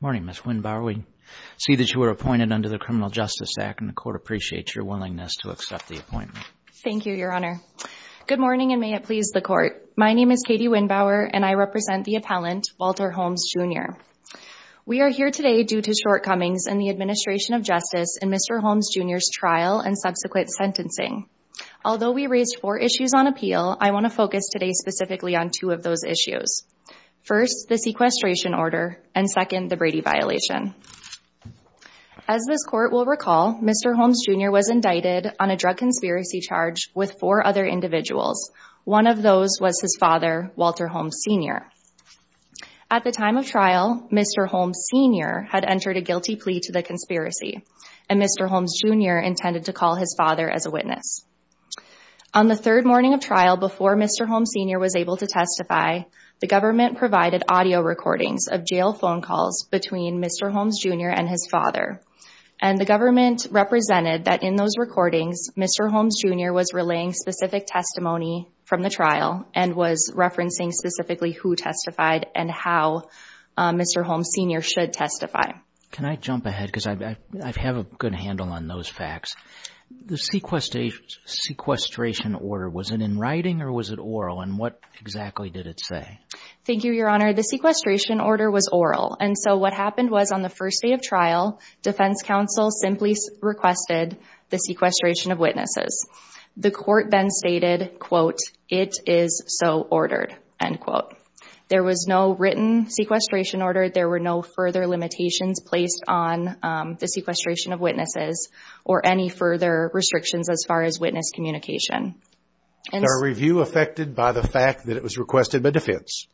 Morning, Ms. Windbauer. We see that you were appointed under the Criminal Justice Act, and the Court appreciates your willingness to accept the appointment. Thank you, Your Honor. Good morning, and may it please the Court. My name is Katie Windbauer, and I represent the appellant, Walter Holmes, Jr. We are here today due to shortcomings in the administration of justice in Mr. Holmes, Jr.'s trial and subsequent sentencing. Although we raised four issues on appeal, I want to focus today specifically on two of those issues. First, the sequestration order, and second, the Brady violation. As this Court will recall, Mr. Holmes, Jr. was indicted on a drug conspiracy charge with four other individuals. One of those was his father, Walter Holmes, Sr. At the time of trial, Mr. Holmes, Sr. had entered a guilty plea to the conspiracy, and Mr. Holmes, Jr. intended to call his father as a witness. On the third morning of trial before Mr. Holmes, Sr. was able to testify, the government provided audio recordings of jail phone calls between Mr. Holmes, Jr. and his father, and the government represented that in those recordings, Mr. Holmes, Jr. was relaying specific testimony from the trial and was referencing specifically who testified and how Mr. Holmes, Sr. should testify. Can I jump ahead, because I have a good handle on those facts. The sequestration order, was it in writing or was it oral, and what exactly did it say? Thank you, Your Honor. The sequestration order was oral, and so what happened was, on the first day of trial, defense counsel simply requested the sequestration of witnesses. The court then stated, quote, it is so ordered, end quote. There was no written sequestration order, there were no further limitations placed on the sequestration of witnesses, or any further restrictions as far as witness communication. Is our review affected by the fact that it was requested by defense?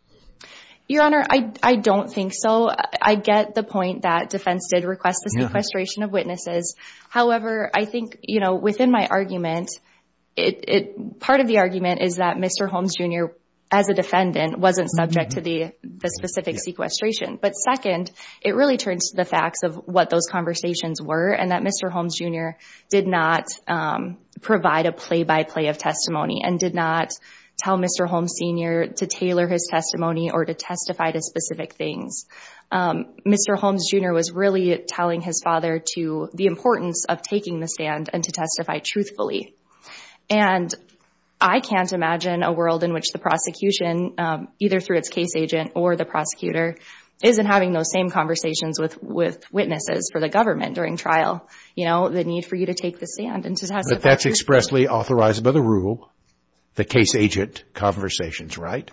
Your Honor, I don't think so. I get the point that defense did request the sequestration of witnesses. However, I think, you know, within my argument, part of the argument is that Mr. Holmes, Jr., as a defendant, wasn't subject to the specific sequestration. But second, it really turns to the facts of what those conversations were, and that Mr. Holmes, Jr. did not provide a play-by-play of testimony, and did not tell Mr. Holmes, Sr. to tailor his testimony or to testify to specific things. Mr. Holmes, Jr. was really telling his father to the importance of taking the stand and to testify truthfully. And I can't imagine a world in which prosecution, either through its case agent or the prosecutor, isn't having those same conversations with witnesses for the government during trial. You know, the need for you to take the stand and to testify truthfully. But that's expressly authorized by the rule, the case agent conversations, right?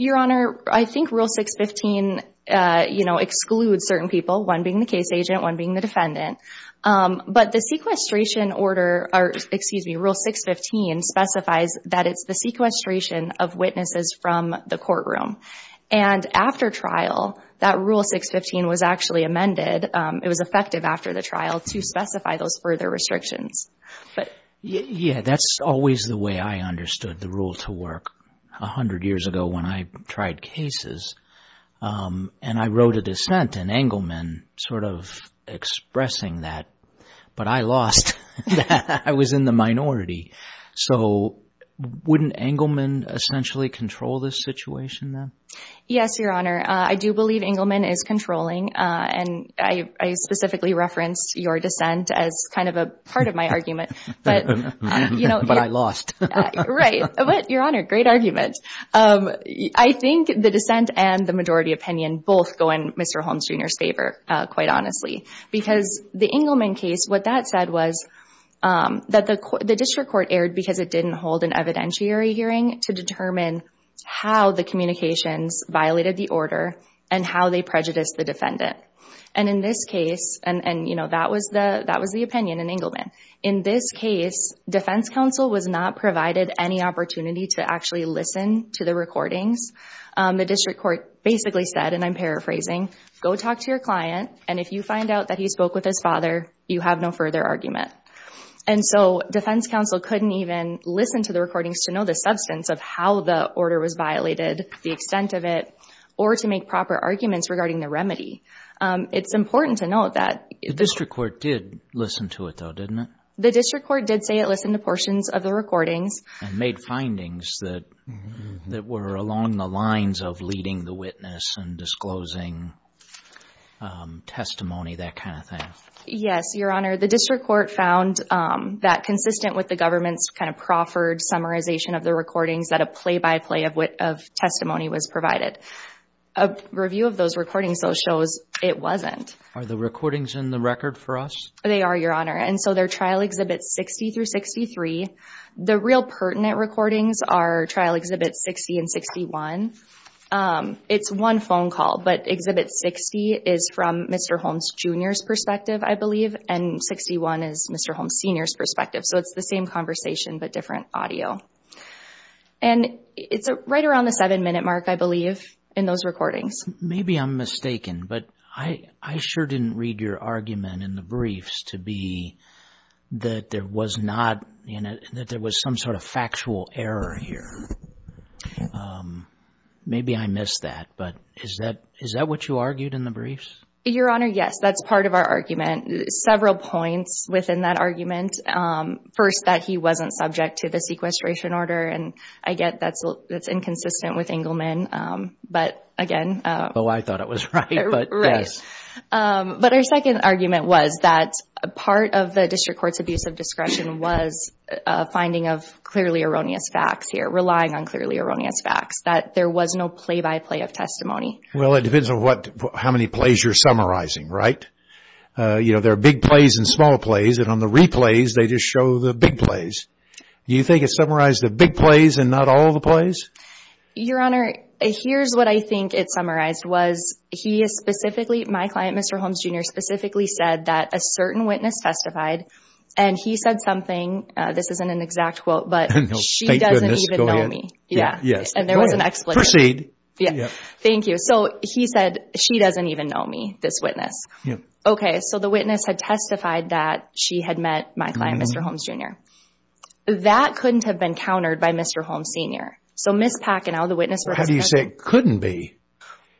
Your Honor, I think Rule 615 excludes certain people, one being the case agent, one being the defendant. But the sequestration order, excuse me, Rule 615 specifies that it's the sequestration of witnesses from the courtroom. And after trial, that Rule 615 was actually amended. It was effective after the trial to specify those further restrictions. Yeah, that's always the way I understood the rule to work. A hundred years ago when I tried cases, and I wrote a dissent in Engelman sort of expressing that, but I lost. I was in the minority. So wouldn't Engelman essentially control this situation then? Yes, Your Honor. I do believe Engelman is controlling. And I specifically referenced your dissent as kind of a part of my argument. But I lost. Right. But Your Honor, great argument. I think the dissent and the majority opinion both go in Mr. Engelman's junior's favor, quite honestly. Because the Engelman case, what that said was that the district court erred because it didn't hold an evidentiary hearing to determine how the communications violated the order and how they prejudiced the defendant. And in this case, and that was the opinion in Engelman. In this case, defense counsel was not provided any opportunity to actually listen to the recordings. The district court basically said, and I'm paraphrasing, go talk to your client. And if you find out that he spoke with his father, you have no further argument. And so defense counsel couldn't even listen to the recordings to know the substance of how the order was violated, the extent of it, or to make proper arguments regarding the remedy. It's important to note that- The district court did listen to it though, didn't it? The district court did say it listened to portions of the recordings. And made findings that were along the lines of leading the witness and disclosing testimony, that kind of thing. Yes, Your Honor. The district court found that consistent with the government's kind of proffered summarization of the recordings that a play-by-play of testimony was provided. A review of those recordings though shows it wasn't. Are the recordings in the record for us? They are, Your Honor. And so they're Trial Exhibits 60 through 63. The real pertinent recordings are Trial Exhibits 60 and 61. It's one phone call, but Exhibit 60 is from Mr. Holmes Jr.'s perspective, I believe, and 61 is Mr. Holmes Sr.'s perspective. So it's the same conversation, but different audio. And it's right around the seven minute mark, I believe, in those recordings. Maybe I'm mistaken, but I sure didn't read your argument in the briefs to be that there was some sort of factual error here. Maybe I missed that, but is that what you argued in the briefs? Your Honor, yes. That's part of our argument. Several points within that argument. First, that he wasn't subject to the sequestration order. And I get that's inconsistent with Engelman, but again... Oh, I thought it was right, but yes. But our second argument was that part of the District Court's abuse of discretion was a finding of clearly erroneous facts here, relying on clearly erroneous facts, that there was no play-by-play of testimony. Well, it depends on how many plays you're summarizing, right? There are big plays and small plays, and on the replays, they just show the big plays. Do you think it summarized the big plays and not all the plays? Your Honor, here's what I think it summarized, was my client, Mr. Holmes, Jr., specifically said that a certain witness testified, and he said something, this isn't an exact quote, but she doesn't even know me. And there was an expletive. Proceed. Thank you. So he said, she doesn't even know me, this witness. Okay, so the witness had testified that she had met my client, Mr. Holmes, Jr. That couldn't have been countered by Mr. Holmes, Sr. So Ms. Pachinow, the witness... How do you say couldn't be?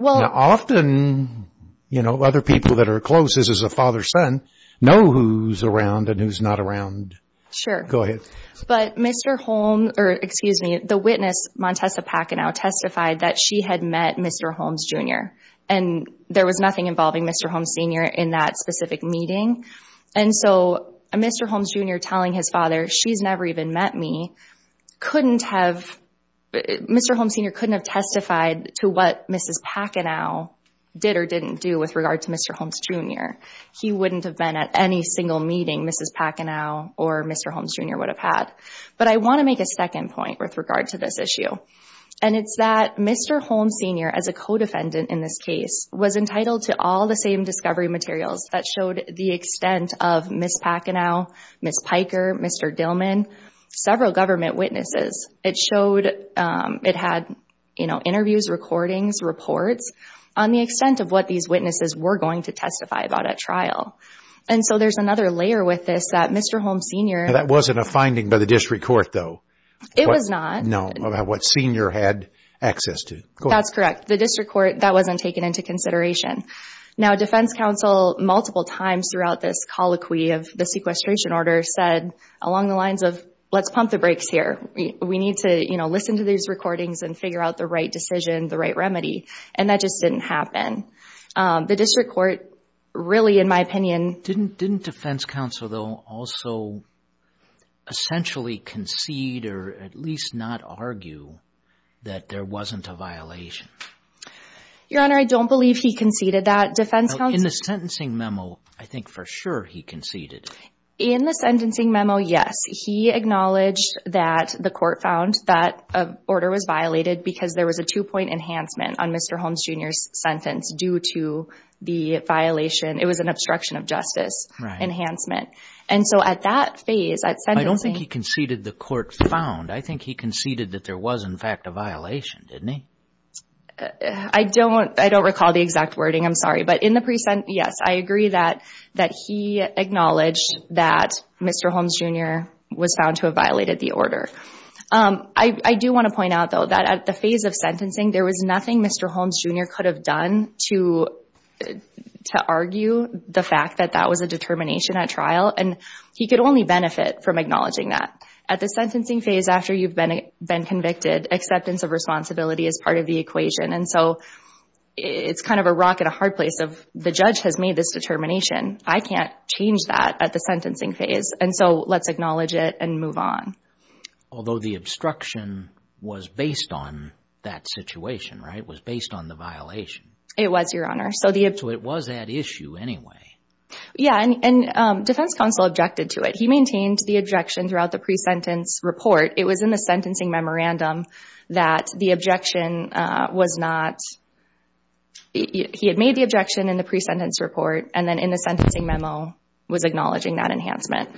Often, you know, other people that are close as a father-son know who's around and who's not around. Sure. Go ahead. But Mr. Holmes, or excuse me, the witness, Montessa Pachinow, testified that she had met Mr. Holmes, Jr., and there was nothing involving Mr. Holmes, Sr. in that specific meeting. And so Mr. Holmes, Jr. telling his father, she's never even met me, couldn't have... Mr. Holmes, Sr. couldn't have testified to what Mrs. Pachinow did or didn't do with regard to Mr. Holmes, Jr. He wouldn't have been at any single meeting Mrs. Pachinow or Mr. Holmes, Jr. would have had. But I want to make a second point with regard to this issue. And it's that Mr. Holmes, Sr., as a co-defendant in this case, was entitled to all the same discovery materials that showed the extent of Ms. Pachinow, Ms. Piker, Mr. Dillman, several government witnesses. It showed, it had, you know, interviews, recordings, reports on the extent of what these witnesses were going to testify about at trial. And so there's another layer with this that Mr. Holmes, Sr. That wasn't a finding by the district court, though. It was not. No. About what Sr. had access to. That's correct. The district court, that wasn't taken into consideration. Now, defense counsel multiple times throughout this colloquy of the sequestration order said along the lines of, let's pump the brakes here. We need to, you know, listen to these recordings and figure out the right decision, the right remedy. And that just didn't happen. The district court, really, in my opinion Didn't defense counsel, though, also essentially concede or at least not argue that there wasn't a violation? Your Honor, I don't believe he conceded that. Defense counsel In the sentencing memo, I think for sure he conceded. In the sentencing memo, yes. He acknowledged that the court found that an order was violated because there was a two-point enhancement on Mr. Holmes, Jr.'s sentence due to the violation. It was an obstruction of justice enhancement. And so at that phase, at sentencing I don't think he conceded the court found. I think he conceded that there was, in fact, a violation, didn't he? I don't recall the exact wording. I'm sorry. But in the present, yes, I agree that he acknowledged that Mr. Holmes, Jr. was found to have violated the order. I do want to point out, though, that at the phase of sentencing, there was nothing Mr. Holmes, Jr. could have done to argue the fact that that was a determination at trial. And he could only benefit from acknowledging that. At the sentencing phase, after you've been convicted, acceptance of responsibility is part of the equation. And so it's kind of a rock and a hard place of, the judge has made this determination. I can't change that at the sentencing phase. And so let's acknowledge it and move on. Although the obstruction was based on that situation, right? Was based on the violation. It was, Your Honor. So it was that issue anyway. Yeah. And defense counsel objected to it. He maintained the objection throughout the pre-sentence report. It was in the sentencing memorandum that the objection was not, he had made the objection in the pre-sentence report and then in the sentencing memo was acknowledging that enhancement.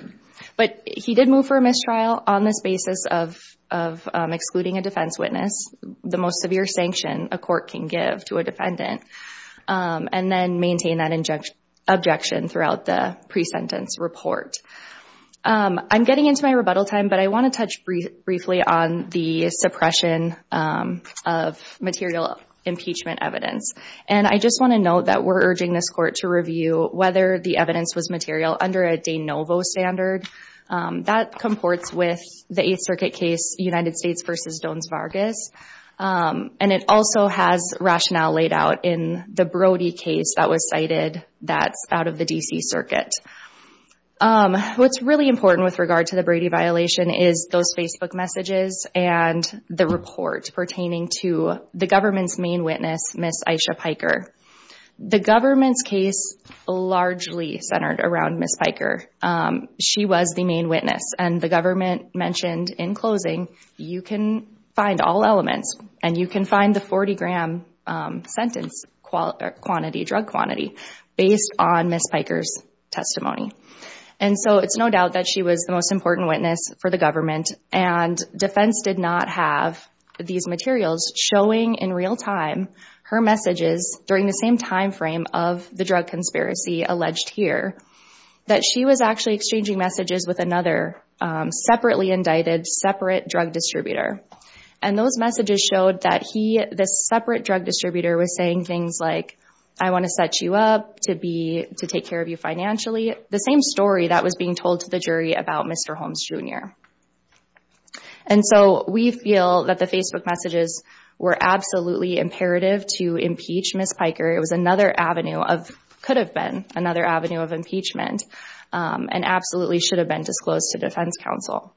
But he did move for a mistrial on this basis of excluding a defense witness, the most severe sanction a court can give to a defendant, and then maintain that objection throughout the pre-sentence report. I'm getting into my rebuttal time, but I want to touch briefly on the suppression of material impeachment evidence. And I just want to note that we're urging this court to review whether the evidence was material under a de novo standard. That comports with the Eighth Circuit case, United States versus Dons Vargas. And it also has rationale laid out in the Brody case that was cited that's out of the D.C. Circuit. What's really important with regard to the Brady violation is those Facebook messages and the report pertaining to the government's main witness, Ms. Aisha Piker. The government's case largely centered around Ms. Piker. She was the main witness and the government mentioned in closing, you can find all elements and you can find the 40 gram sentence quantity, drug quantity, based on Ms. Piker's testimony. And so it's no doubt that she was the most important witness for the government and defense did not have these materials showing in real time her messages during the same time frame of the drug conspiracy alleged here, that she was actually exchanging messages with another separately indicted, separate drug distributor. And those messages showed that he, this separate drug distributor, was saying things like, I want to set you up to take care of you financially. The same story that was being told to the jury about Mr. Holmes Jr. And so we feel that the Facebook messages were absolutely imperative to impeach Ms. Piker. It was another avenue of, could have been another avenue of impeachment and absolutely should have been disclosed to defense counsel.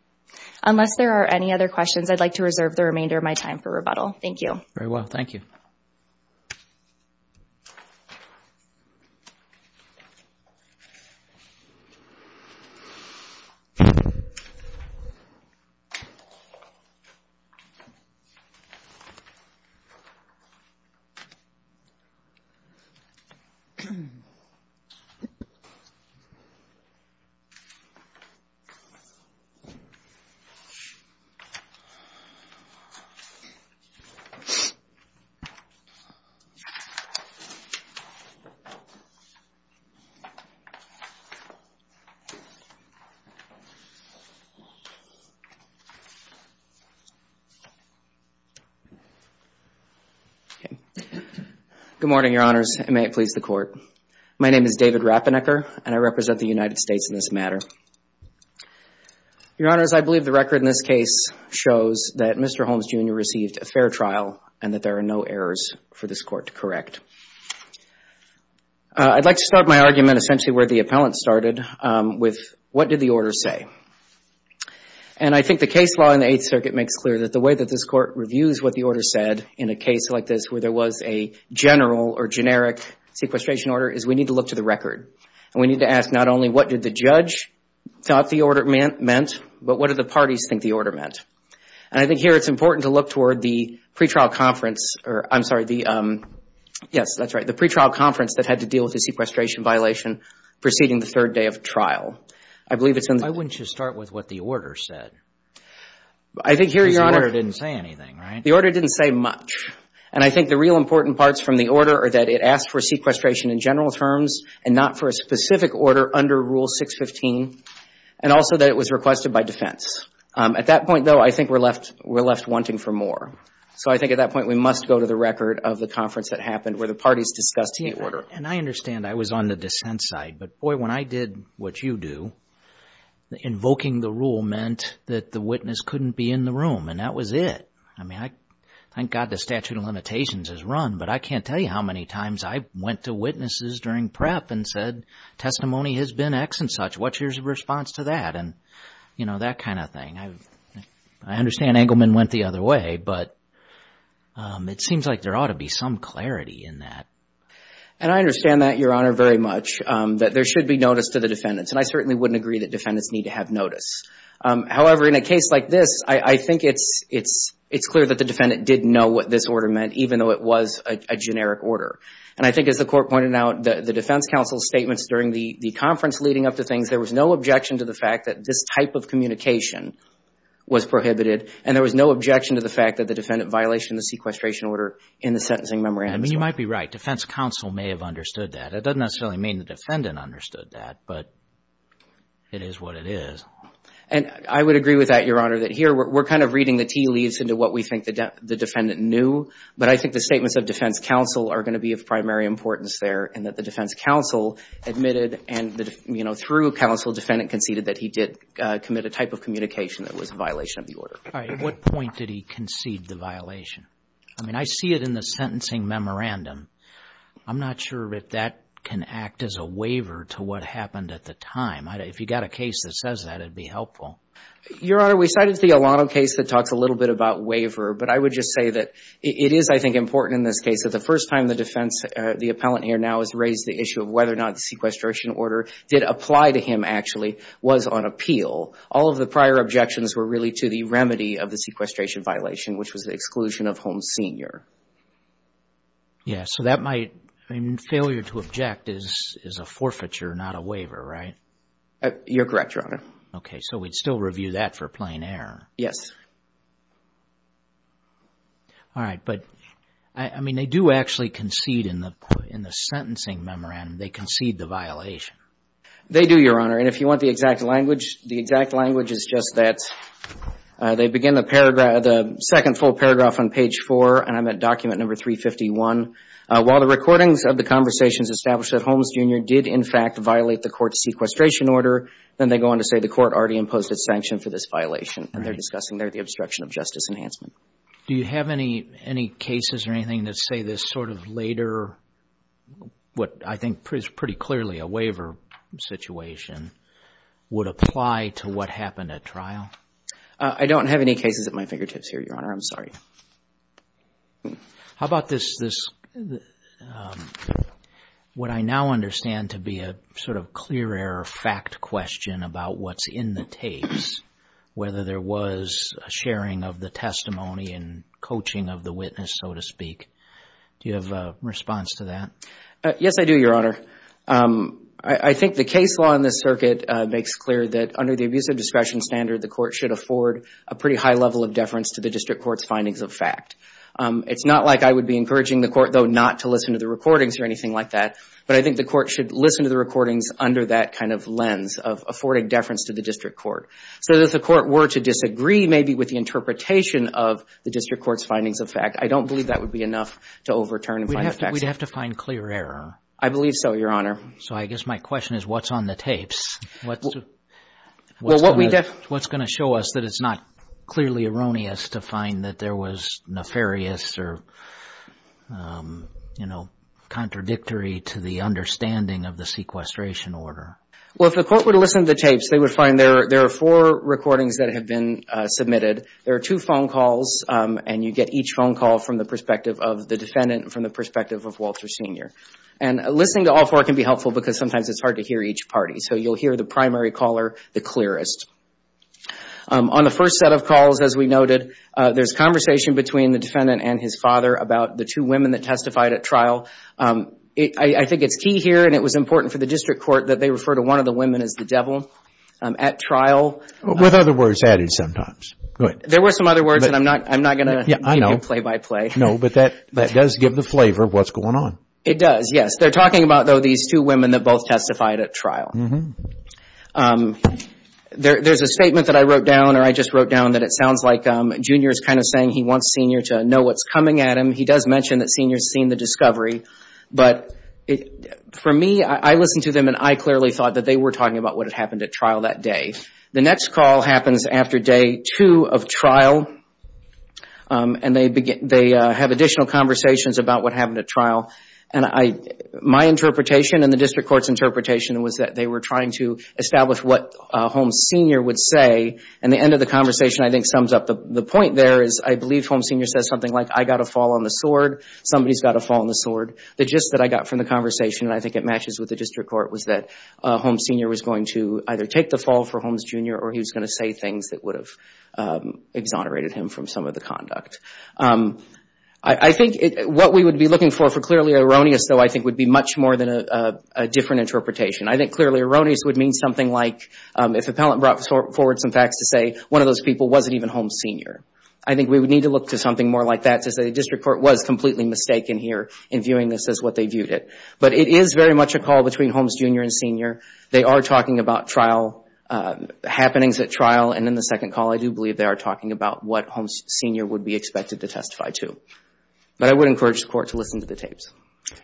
Unless there are any other questions, I'd like to reserve the remainder of my time for rebuttal. Thank you. Very well. Thank you. Thank you. Okay. Good morning, your honors, and may it please the court. My name is David Rappenegger and I represent the United States in this matter. Your honors, I believe the record in this case shows that Mr. Holmes Jr. received a fair trial and that there are no errors for this court to correct. I'd like to start my argument essentially where the appellant started with what did the order say? And I think the case law in the Eighth Circuit makes clear that the way that this court reviews what the order said in a case like this where there was a general or generic sequestration order is we need to look to the record. And we need to ask not only what did the judge thought the order meant, but what did the parties think the order meant? And I think here it's important to look toward the pre-trial conference or I'm sorry, the, yes, that's right, the pre-trial conference that had to deal with the sequestration violation preceding the third day of trial. I believe it's in the... Why wouldn't you start with what the order said? I think here, your honor... Because the order didn't say anything, right? The order didn't say much. And I think the real important parts from the order are that it asked for sequestration in general terms and not for a specific order under Rule 615. And also that it was requested by defense. At that point, though, I think we're left wanting for more. So I think at that point we must go to the record of the conference that happened where the parties discussed the order. And I understand I was on the dissent side. But boy, when I did what you do, invoking the rule meant that the witness couldn't be in the room. And that was it. I mean, thank God the statute of limitations is run. But I can't tell you how many times I went to witnesses during prep and said, testimony has been X and such. What's your response to that? And, you know, that kind of thing. I understand Engelman went the other way. But it seems like there ought to be some clarity in that. And I understand that, Your Honor, very much. That there should be notice to the defendants. And I certainly wouldn't agree that defendants need to have notice. However, in a case like this, I think it's clear that the defendant did know what this order meant, even though it was a generic order. And I think, as the Court pointed out, the defense counsel's statements during the conference leading up to things, there was no objection to the fact that this type of communication was prohibited. And there was no objection to the fact that the defendant violated the sequestration order in the sentencing memorandum as well. You might be right. Defense counsel may have understood that. It doesn't necessarily mean the defendant understood that. But it is what it is. And I would agree with that, Your Honor, that here we're kind of reading the tea leaves into what we think the defendant knew. But I think the statements of defense counsel are going to be of primary importance there and that the defense counsel admitted and, you know, through counsel, defendant conceded that he did commit a type of communication that was a violation of the order. All right. What point did he concede the violation? I mean, I see it in the sentencing memorandum. I'm not sure if that can act as a waiver to what happened at the time. If you got a case that says that, it'd be helpful. Your Honor, we cited the Alano case that talks a little bit about waiver. But I would just say that it is, I think, important in this case that the first time the defense, the appellant here now has raised the issue of whether or not the sequestration order did apply to him actually was on appeal. All of the prior objections were really to the remedy of the sequestration violation, which was the exclusion of Holmes Sr. Yeah. So that might, I mean, failure to object is a forfeiture, not a waiver, right? You're correct, Your Honor. Okay. So we'd still review that for plain error. Yes. All right. But, I mean, they do actually concede in the sentencing memorandum. They concede the violation. They do, Your Honor. And if you want the exact language, the exact language is just that they begin the paragraph, the second full paragraph on page four, and I'm at document number 351. While the recordings of the conversations established that Holmes Jr. did, in fact, violate the court's sequestration order, then they go on to say the court already imposed a sanction for this violation. And they're discussing there the obstruction of justice enhancement. Do you have any cases or anything that say this sort of later, what I think is pretty clearly a waiver situation, would apply to what happened at trial? I don't have any cases at my fingertips here, Your Honor. I'm sorry. How about this, what I now understand to be a sort of clear error fact question about what's in the tapes, whether there was a sharing of the testimony and coaching of the witness, so to speak. Do you have a response to that? Yes, I do, Your Honor. I think the case law in this circuit makes clear that under the abuse of discretion standard, the court should afford a pretty high level of deference to the district court's findings of fact. It's not like I would be encouraging the court, though, not to listen to the recordings or anything like that. But I think the court should listen to the recordings under that kind of lens of affording deference to the district court. So if the court were to disagree, maybe, with the interpretation of the district court's findings of fact, I don't believe that would be enough to overturn and find facts. We'd have to find clear error. I believe so, Your Honor. So I guess my question is, what's on the tapes? What's going to show us that it's not clearly erroneous to find that there was nefarious or contradictory to the understanding of the sequestration order? Well, if the court were to listen to the tapes, they would find there are four recordings that have been submitted. There are two phone calls, and you get each phone call from the perspective of the defendant and from the perspective of Walter Sr. And listening to all four can be helpful because sometimes it's hard to hear each party. So you'll hear the primary caller the clearest. On the first set of calls, as we noted, there's conversation between the defendant and his father about the two women that testified at trial. I think it's key here, and it was important for the district court that they refer to one of the women as the devil at trial. With other words added sometimes. Go ahead. There were some other words, and I'm not going to play by play. No, but that does give the flavor of what's going on. It does, yes. They're talking about, though, these two women that both testified at trial. There's a statement that I wrote down, or I just wrote down, that it sounds like Junior is kind of saying he wants Senior to know what's coming at him. He does mention that Senior's seen the discovery. But for me, I listened to them, and I clearly thought that they were talking about what had happened at trial that day. The next call happens after day two of trial, and they have additional conversations about what happened at trial. And my interpretation and the district court's interpretation was that they were trying to establish what Holmes Senior would say. And the end of the conversation, I think, sums up the point there is I believe Holmes Senior says something like, I got a fall on the sword. Somebody's got a fall on the sword. The gist that I got from the conversation, and I think it matches with the district court, was that Holmes Senior was going to either take the fall for Holmes Junior, or he was going to say things that would have exonerated him from some of the conduct. I think what we would be looking for for clearly erroneous, though, I think would be much more than a different interpretation. I think clearly erroneous would mean something like if appellant brought forward some facts to say one of those people wasn't even Holmes Senior. I think we would need to look to something more like that to say the district court was completely mistaken here in viewing this as what they viewed it. But it is very much a call between Holmes Junior and Senior. They are talking about trial, happenings at trial. And in the second call, I do believe they are talking about what Holmes Senior would be expected to testify to. But I would encourage the court to listen to the tapes.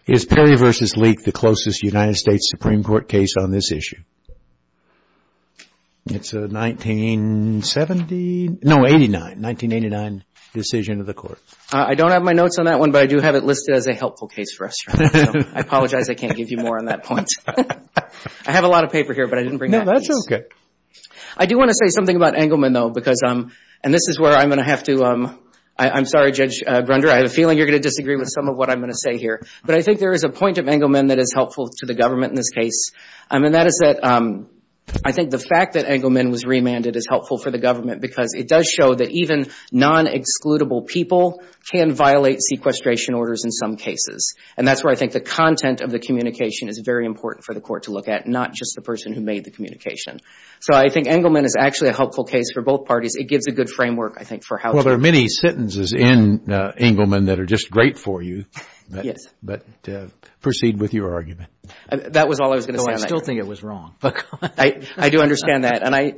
Is Perry v. Leek the closest United States Supreme Court case on this issue? It's a 1970, no, 89, 1989 decision of the court. I don't have my notes on that one, but I do have it listed as a helpful case for us. I apologize I can't give you more on that point. I have a lot of paper here, but I didn't bring that. No, that's okay. I do want to say something about Engelman, though, because, and this is where I'm going to have to, I'm sorry, Judge Grunder, I have a feeling you're going to disagree with some of what I'm going to say here. But I think there is a point of Engelman that is helpful to the government in this case. And that is that I think the fact that Engelman was remanded is helpful for the government, because it does show that even non-excludable people can violate sequestration orders in some cases. And that's where I think the content of the communication is very important for the court to look at, not just the person who made the communication. So I think Engelman is actually a helpful case for both parties. It gives a good framework, I think, for how to... Well, there are many sentences in Engelman that are just great for you. Yes. But proceed with your argument. That was all I was going to say on that. Though I still think it was wrong. Look, I do understand that. And I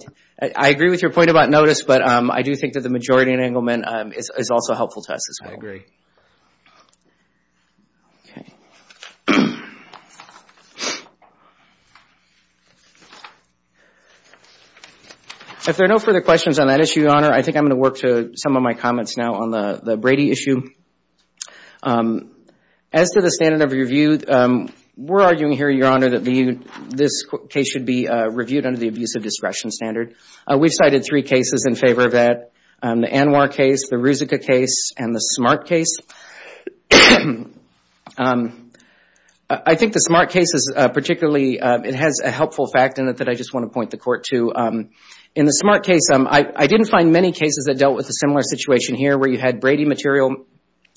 agree with your point about notice, but I do think that the majority in Engelman is also helpful to us as well. I agree. If there are no further questions on that issue, Your Honor, I think I'm going to work to some of my comments now on the Brady issue. As to the standard of review, we're arguing here, Your Honor, that this case should be reviewed under the abusive discretion standard. We've cited three cases in favor of that. The Anwar case, the Ruzicka case, and the Smart case. I think the Smart case is particularly... It has a helpful fact in it that I just want to point the Court to. In the Smart case, I didn't find many cases that dealt with a similar situation here where you had Brady material,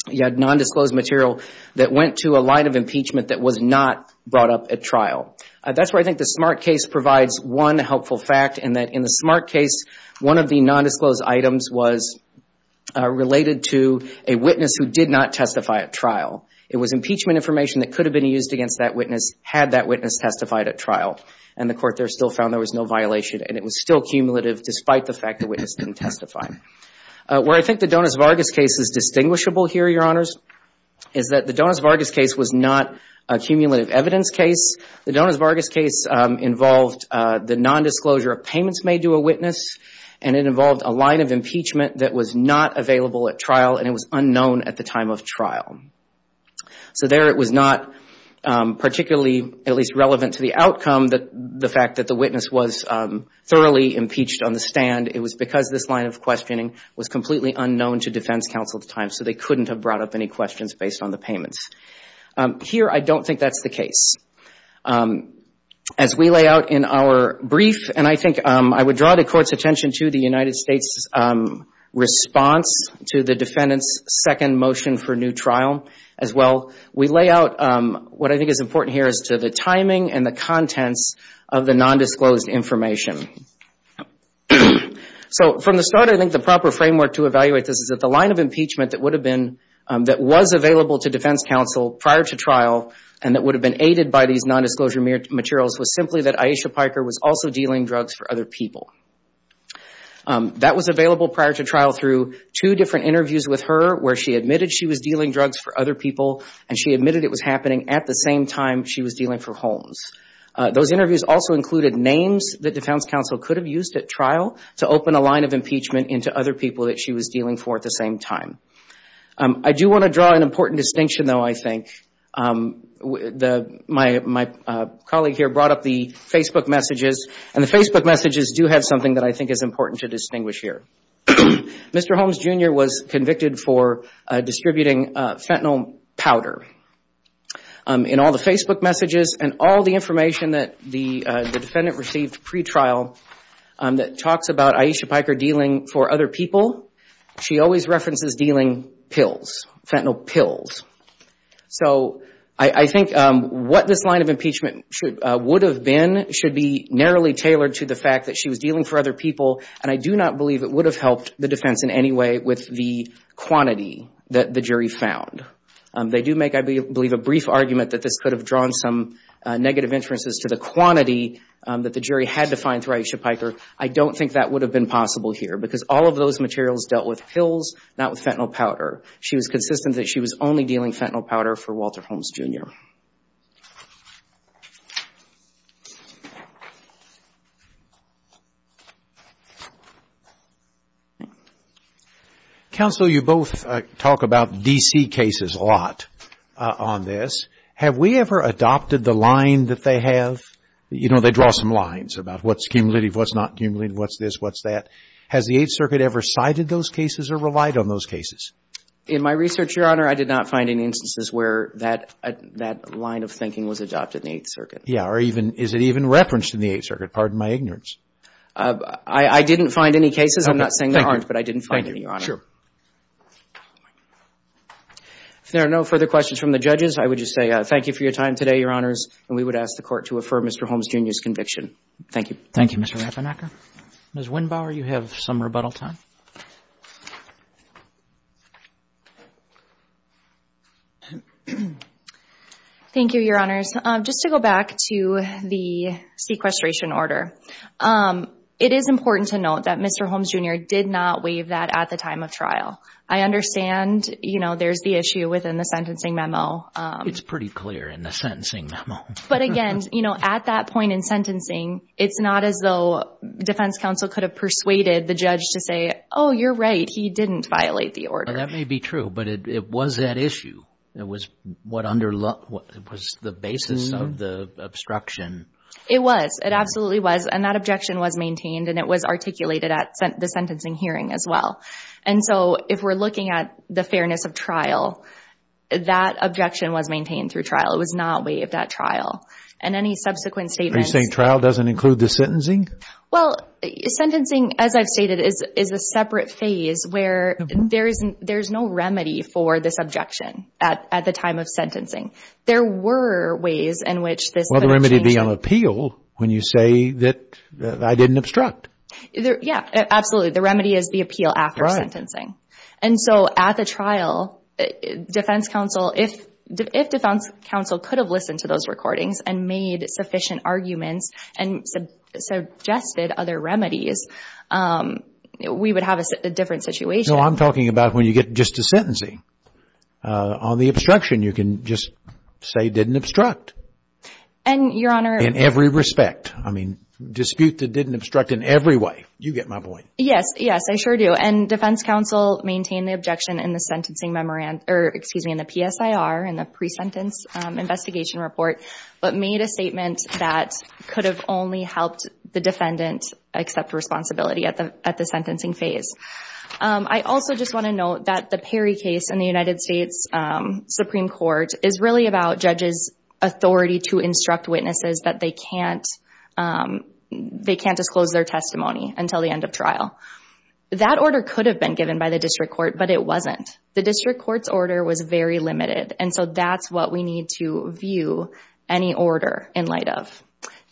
you had nondisclosed material that went to a line of impeachment that was not brought up at trial. That's where I think the Smart case provides one helpful fact, in that in the Smart case, one of the nondisclosed items was related to a witness who did not testify at trial. It was impeachment information that could have been used against that witness, had that witness testified at trial. The Court there still found there was no violation, and it was still cumulative, despite the fact the witness didn't testify. Where I think the Donas-Vargas case is distinguishable here, Your Honors, is that the Donas-Vargas case was not a cumulative evidence case. The Donas-Vargas case involved the nondisclosure of payments made to a witness, and it involved a line of impeachment that was not available at trial, and it was unknown at the time of trial. So there it was not particularly, at least relevant to the outcome, that the fact that the witness was thoroughly impeached on the stand. It was because this line of questioning was completely unknown to defense counsel at the time, so they couldn't have brought up any questions based on the payments. Here, I don't think that's the case. As we lay out in our brief, and I think I would draw the Court's attention to the United States response to the defendant's second motion for new trial as well, we lay out what I think is important here as to the timing and the contents of the nondisclosed information. So from the start, I think the proper framework to evaluate this is that the line of impeachment that would have been, that was available to defense counsel prior to trial, and that would have been aided by these nondisclosure materials, was simply that Aisha Piker was also dealing drugs for other people. That was available prior to trial through two different interviews with her, where she admitted she was dealing drugs for other people, and she admitted it was happening at the same time she was dealing for Holmes. Those interviews also included names that defense counsel could have used at trial to open a line of impeachment into other people that she was dealing for at the same time. I do want to draw an important distinction though, I think, my colleague here brought up the Facebook messages, and the Facebook messages do have something that I think is important to distinguish here. Mr. Holmes Jr. was convicted for distributing fentanyl powder in all the Facebook messages and all the information that the defendant received pre-trial that talks about Aisha Piker dealing for other people. She always references dealing pills, fentanyl pills. So I think what this line of impeachment would have been, should be narrowly tailored to the fact that she was dealing for other people, and I do not believe it would have helped the defense in any way with the quantity that the jury found. They do make, I believe, a brief argument that this could have drawn some negative inferences to the quantity that the jury had to find through Aisha Piker. I don't think that would have been possible here, because all of those materials dealt with pills, not with fentanyl powder. She was consistent that she was only dealing fentanyl powder for Walter Holmes Jr. Counsel, you both talk about D.C. cases a lot on this. Have we ever adopted the line that they have, you know, they draw some lines about what's cumulative, what's not cumulative, what's this, what's that? Has the Eighth Circuit ever cited those cases or relied on those cases? In my research, Your Honor, I did not find any instances where that line of thinking was adopted in the Eighth Circuit. Yeah, or is it even referenced in the Eighth Circuit? Pardon my ignorance. I didn't find any cases. I'm not saying there aren't, but I didn't find any, Your Honor. Sure. If there are no further questions from the judges, I would just say thank you for your time today, Your Honors, and we would ask the Court to affirm Mr. Holmes Jr.'s conviction. Thank you. Thank you, Mr. Rappanacker. Ms. Windbauer, you have some rebuttal time. Thank you, Your Honors. Just to go back to the sequestration order, it is important to note that Mr. Holmes Jr. did not waive that at the time of trial. I understand, you know, there's the issue within the sentencing memo. It's pretty clear in the sentencing memo. But again, you know, at that point in sentencing, it's not as though Defense Counsel could have persuaded the judge to say, oh, you're right, he didn't violate the order. That may be true, but it was that issue. It was what was the basis of the obstruction. It was. It absolutely was. And that objection was maintained, and it was articulated at the sentencing hearing as well. And so if we're looking at the fairness of trial, that objection was maintained through trial. It was not waived at trial. And any subsequent statements... Are you saying trial doesn't include the sentencing? Well, sentencing, as I've stated, is a separate phase where there's no remedy for this objection at the time of sentencing. There were ways in which this... Well, the remedy would be on appeal when you say that I didn't obstruct. Yeah, absolutely. The remedy is the appeal after sentencing. And so at the trial, Defense Counsel, if Defense Counsel could have listened to those recordings and made sufficient arguments and suggested other remedies, we would have a different situation. No, I'm talking about when you get just to sentencing. On the obstruction, you can just say didn't obstruct. And, Your Honor... In every respect. I mean, dispute that didn't obstruct in every way. You get my point. Yes, yes, I sure do. And Defense Counsel maintained the objection in the sentencing memorandum... Or excuse me, in the PSIR, in the pre-sentence investigation report, but made a statement that could have only helped the defendant accept responsibility at the sentencing phase. I also just want to note that the Perry case in the United States Supreme Court is really about judges' authority to instruct witnesses that they can't disclose their testimony until the end of trial. That order could have been given by the district court, but it wasn't. The district court's order was very limited. And so that's what we need to view any order in light of.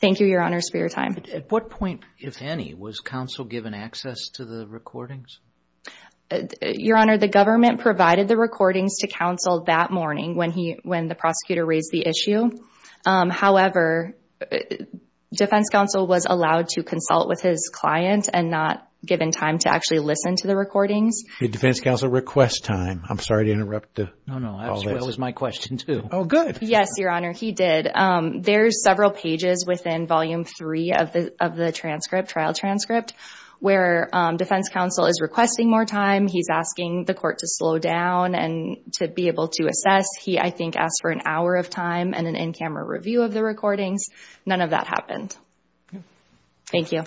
Thank you, Your Honor, for your time. At what point, if any, was counsel given access to the recordings? Your Honor, the government provided the recordings to counsel that morning when the prosecutor raised the issue. However, Defense Counsel was allowed to consult with his client and not given time to actually listen to the recordings. Did Defense Counsel request time? I'm sorry to interrupt. No, no, that was my question too. Oh, good. Yes, Your Honor, he did. There's several pages within Volume 3 of the trial transcript where Defense Counsel is requesting more time. He's asking the court to slow down and to be able to assess. He, I think, asked for an hour of time and an in-camera review of the recordings. None of that happened. Thank you.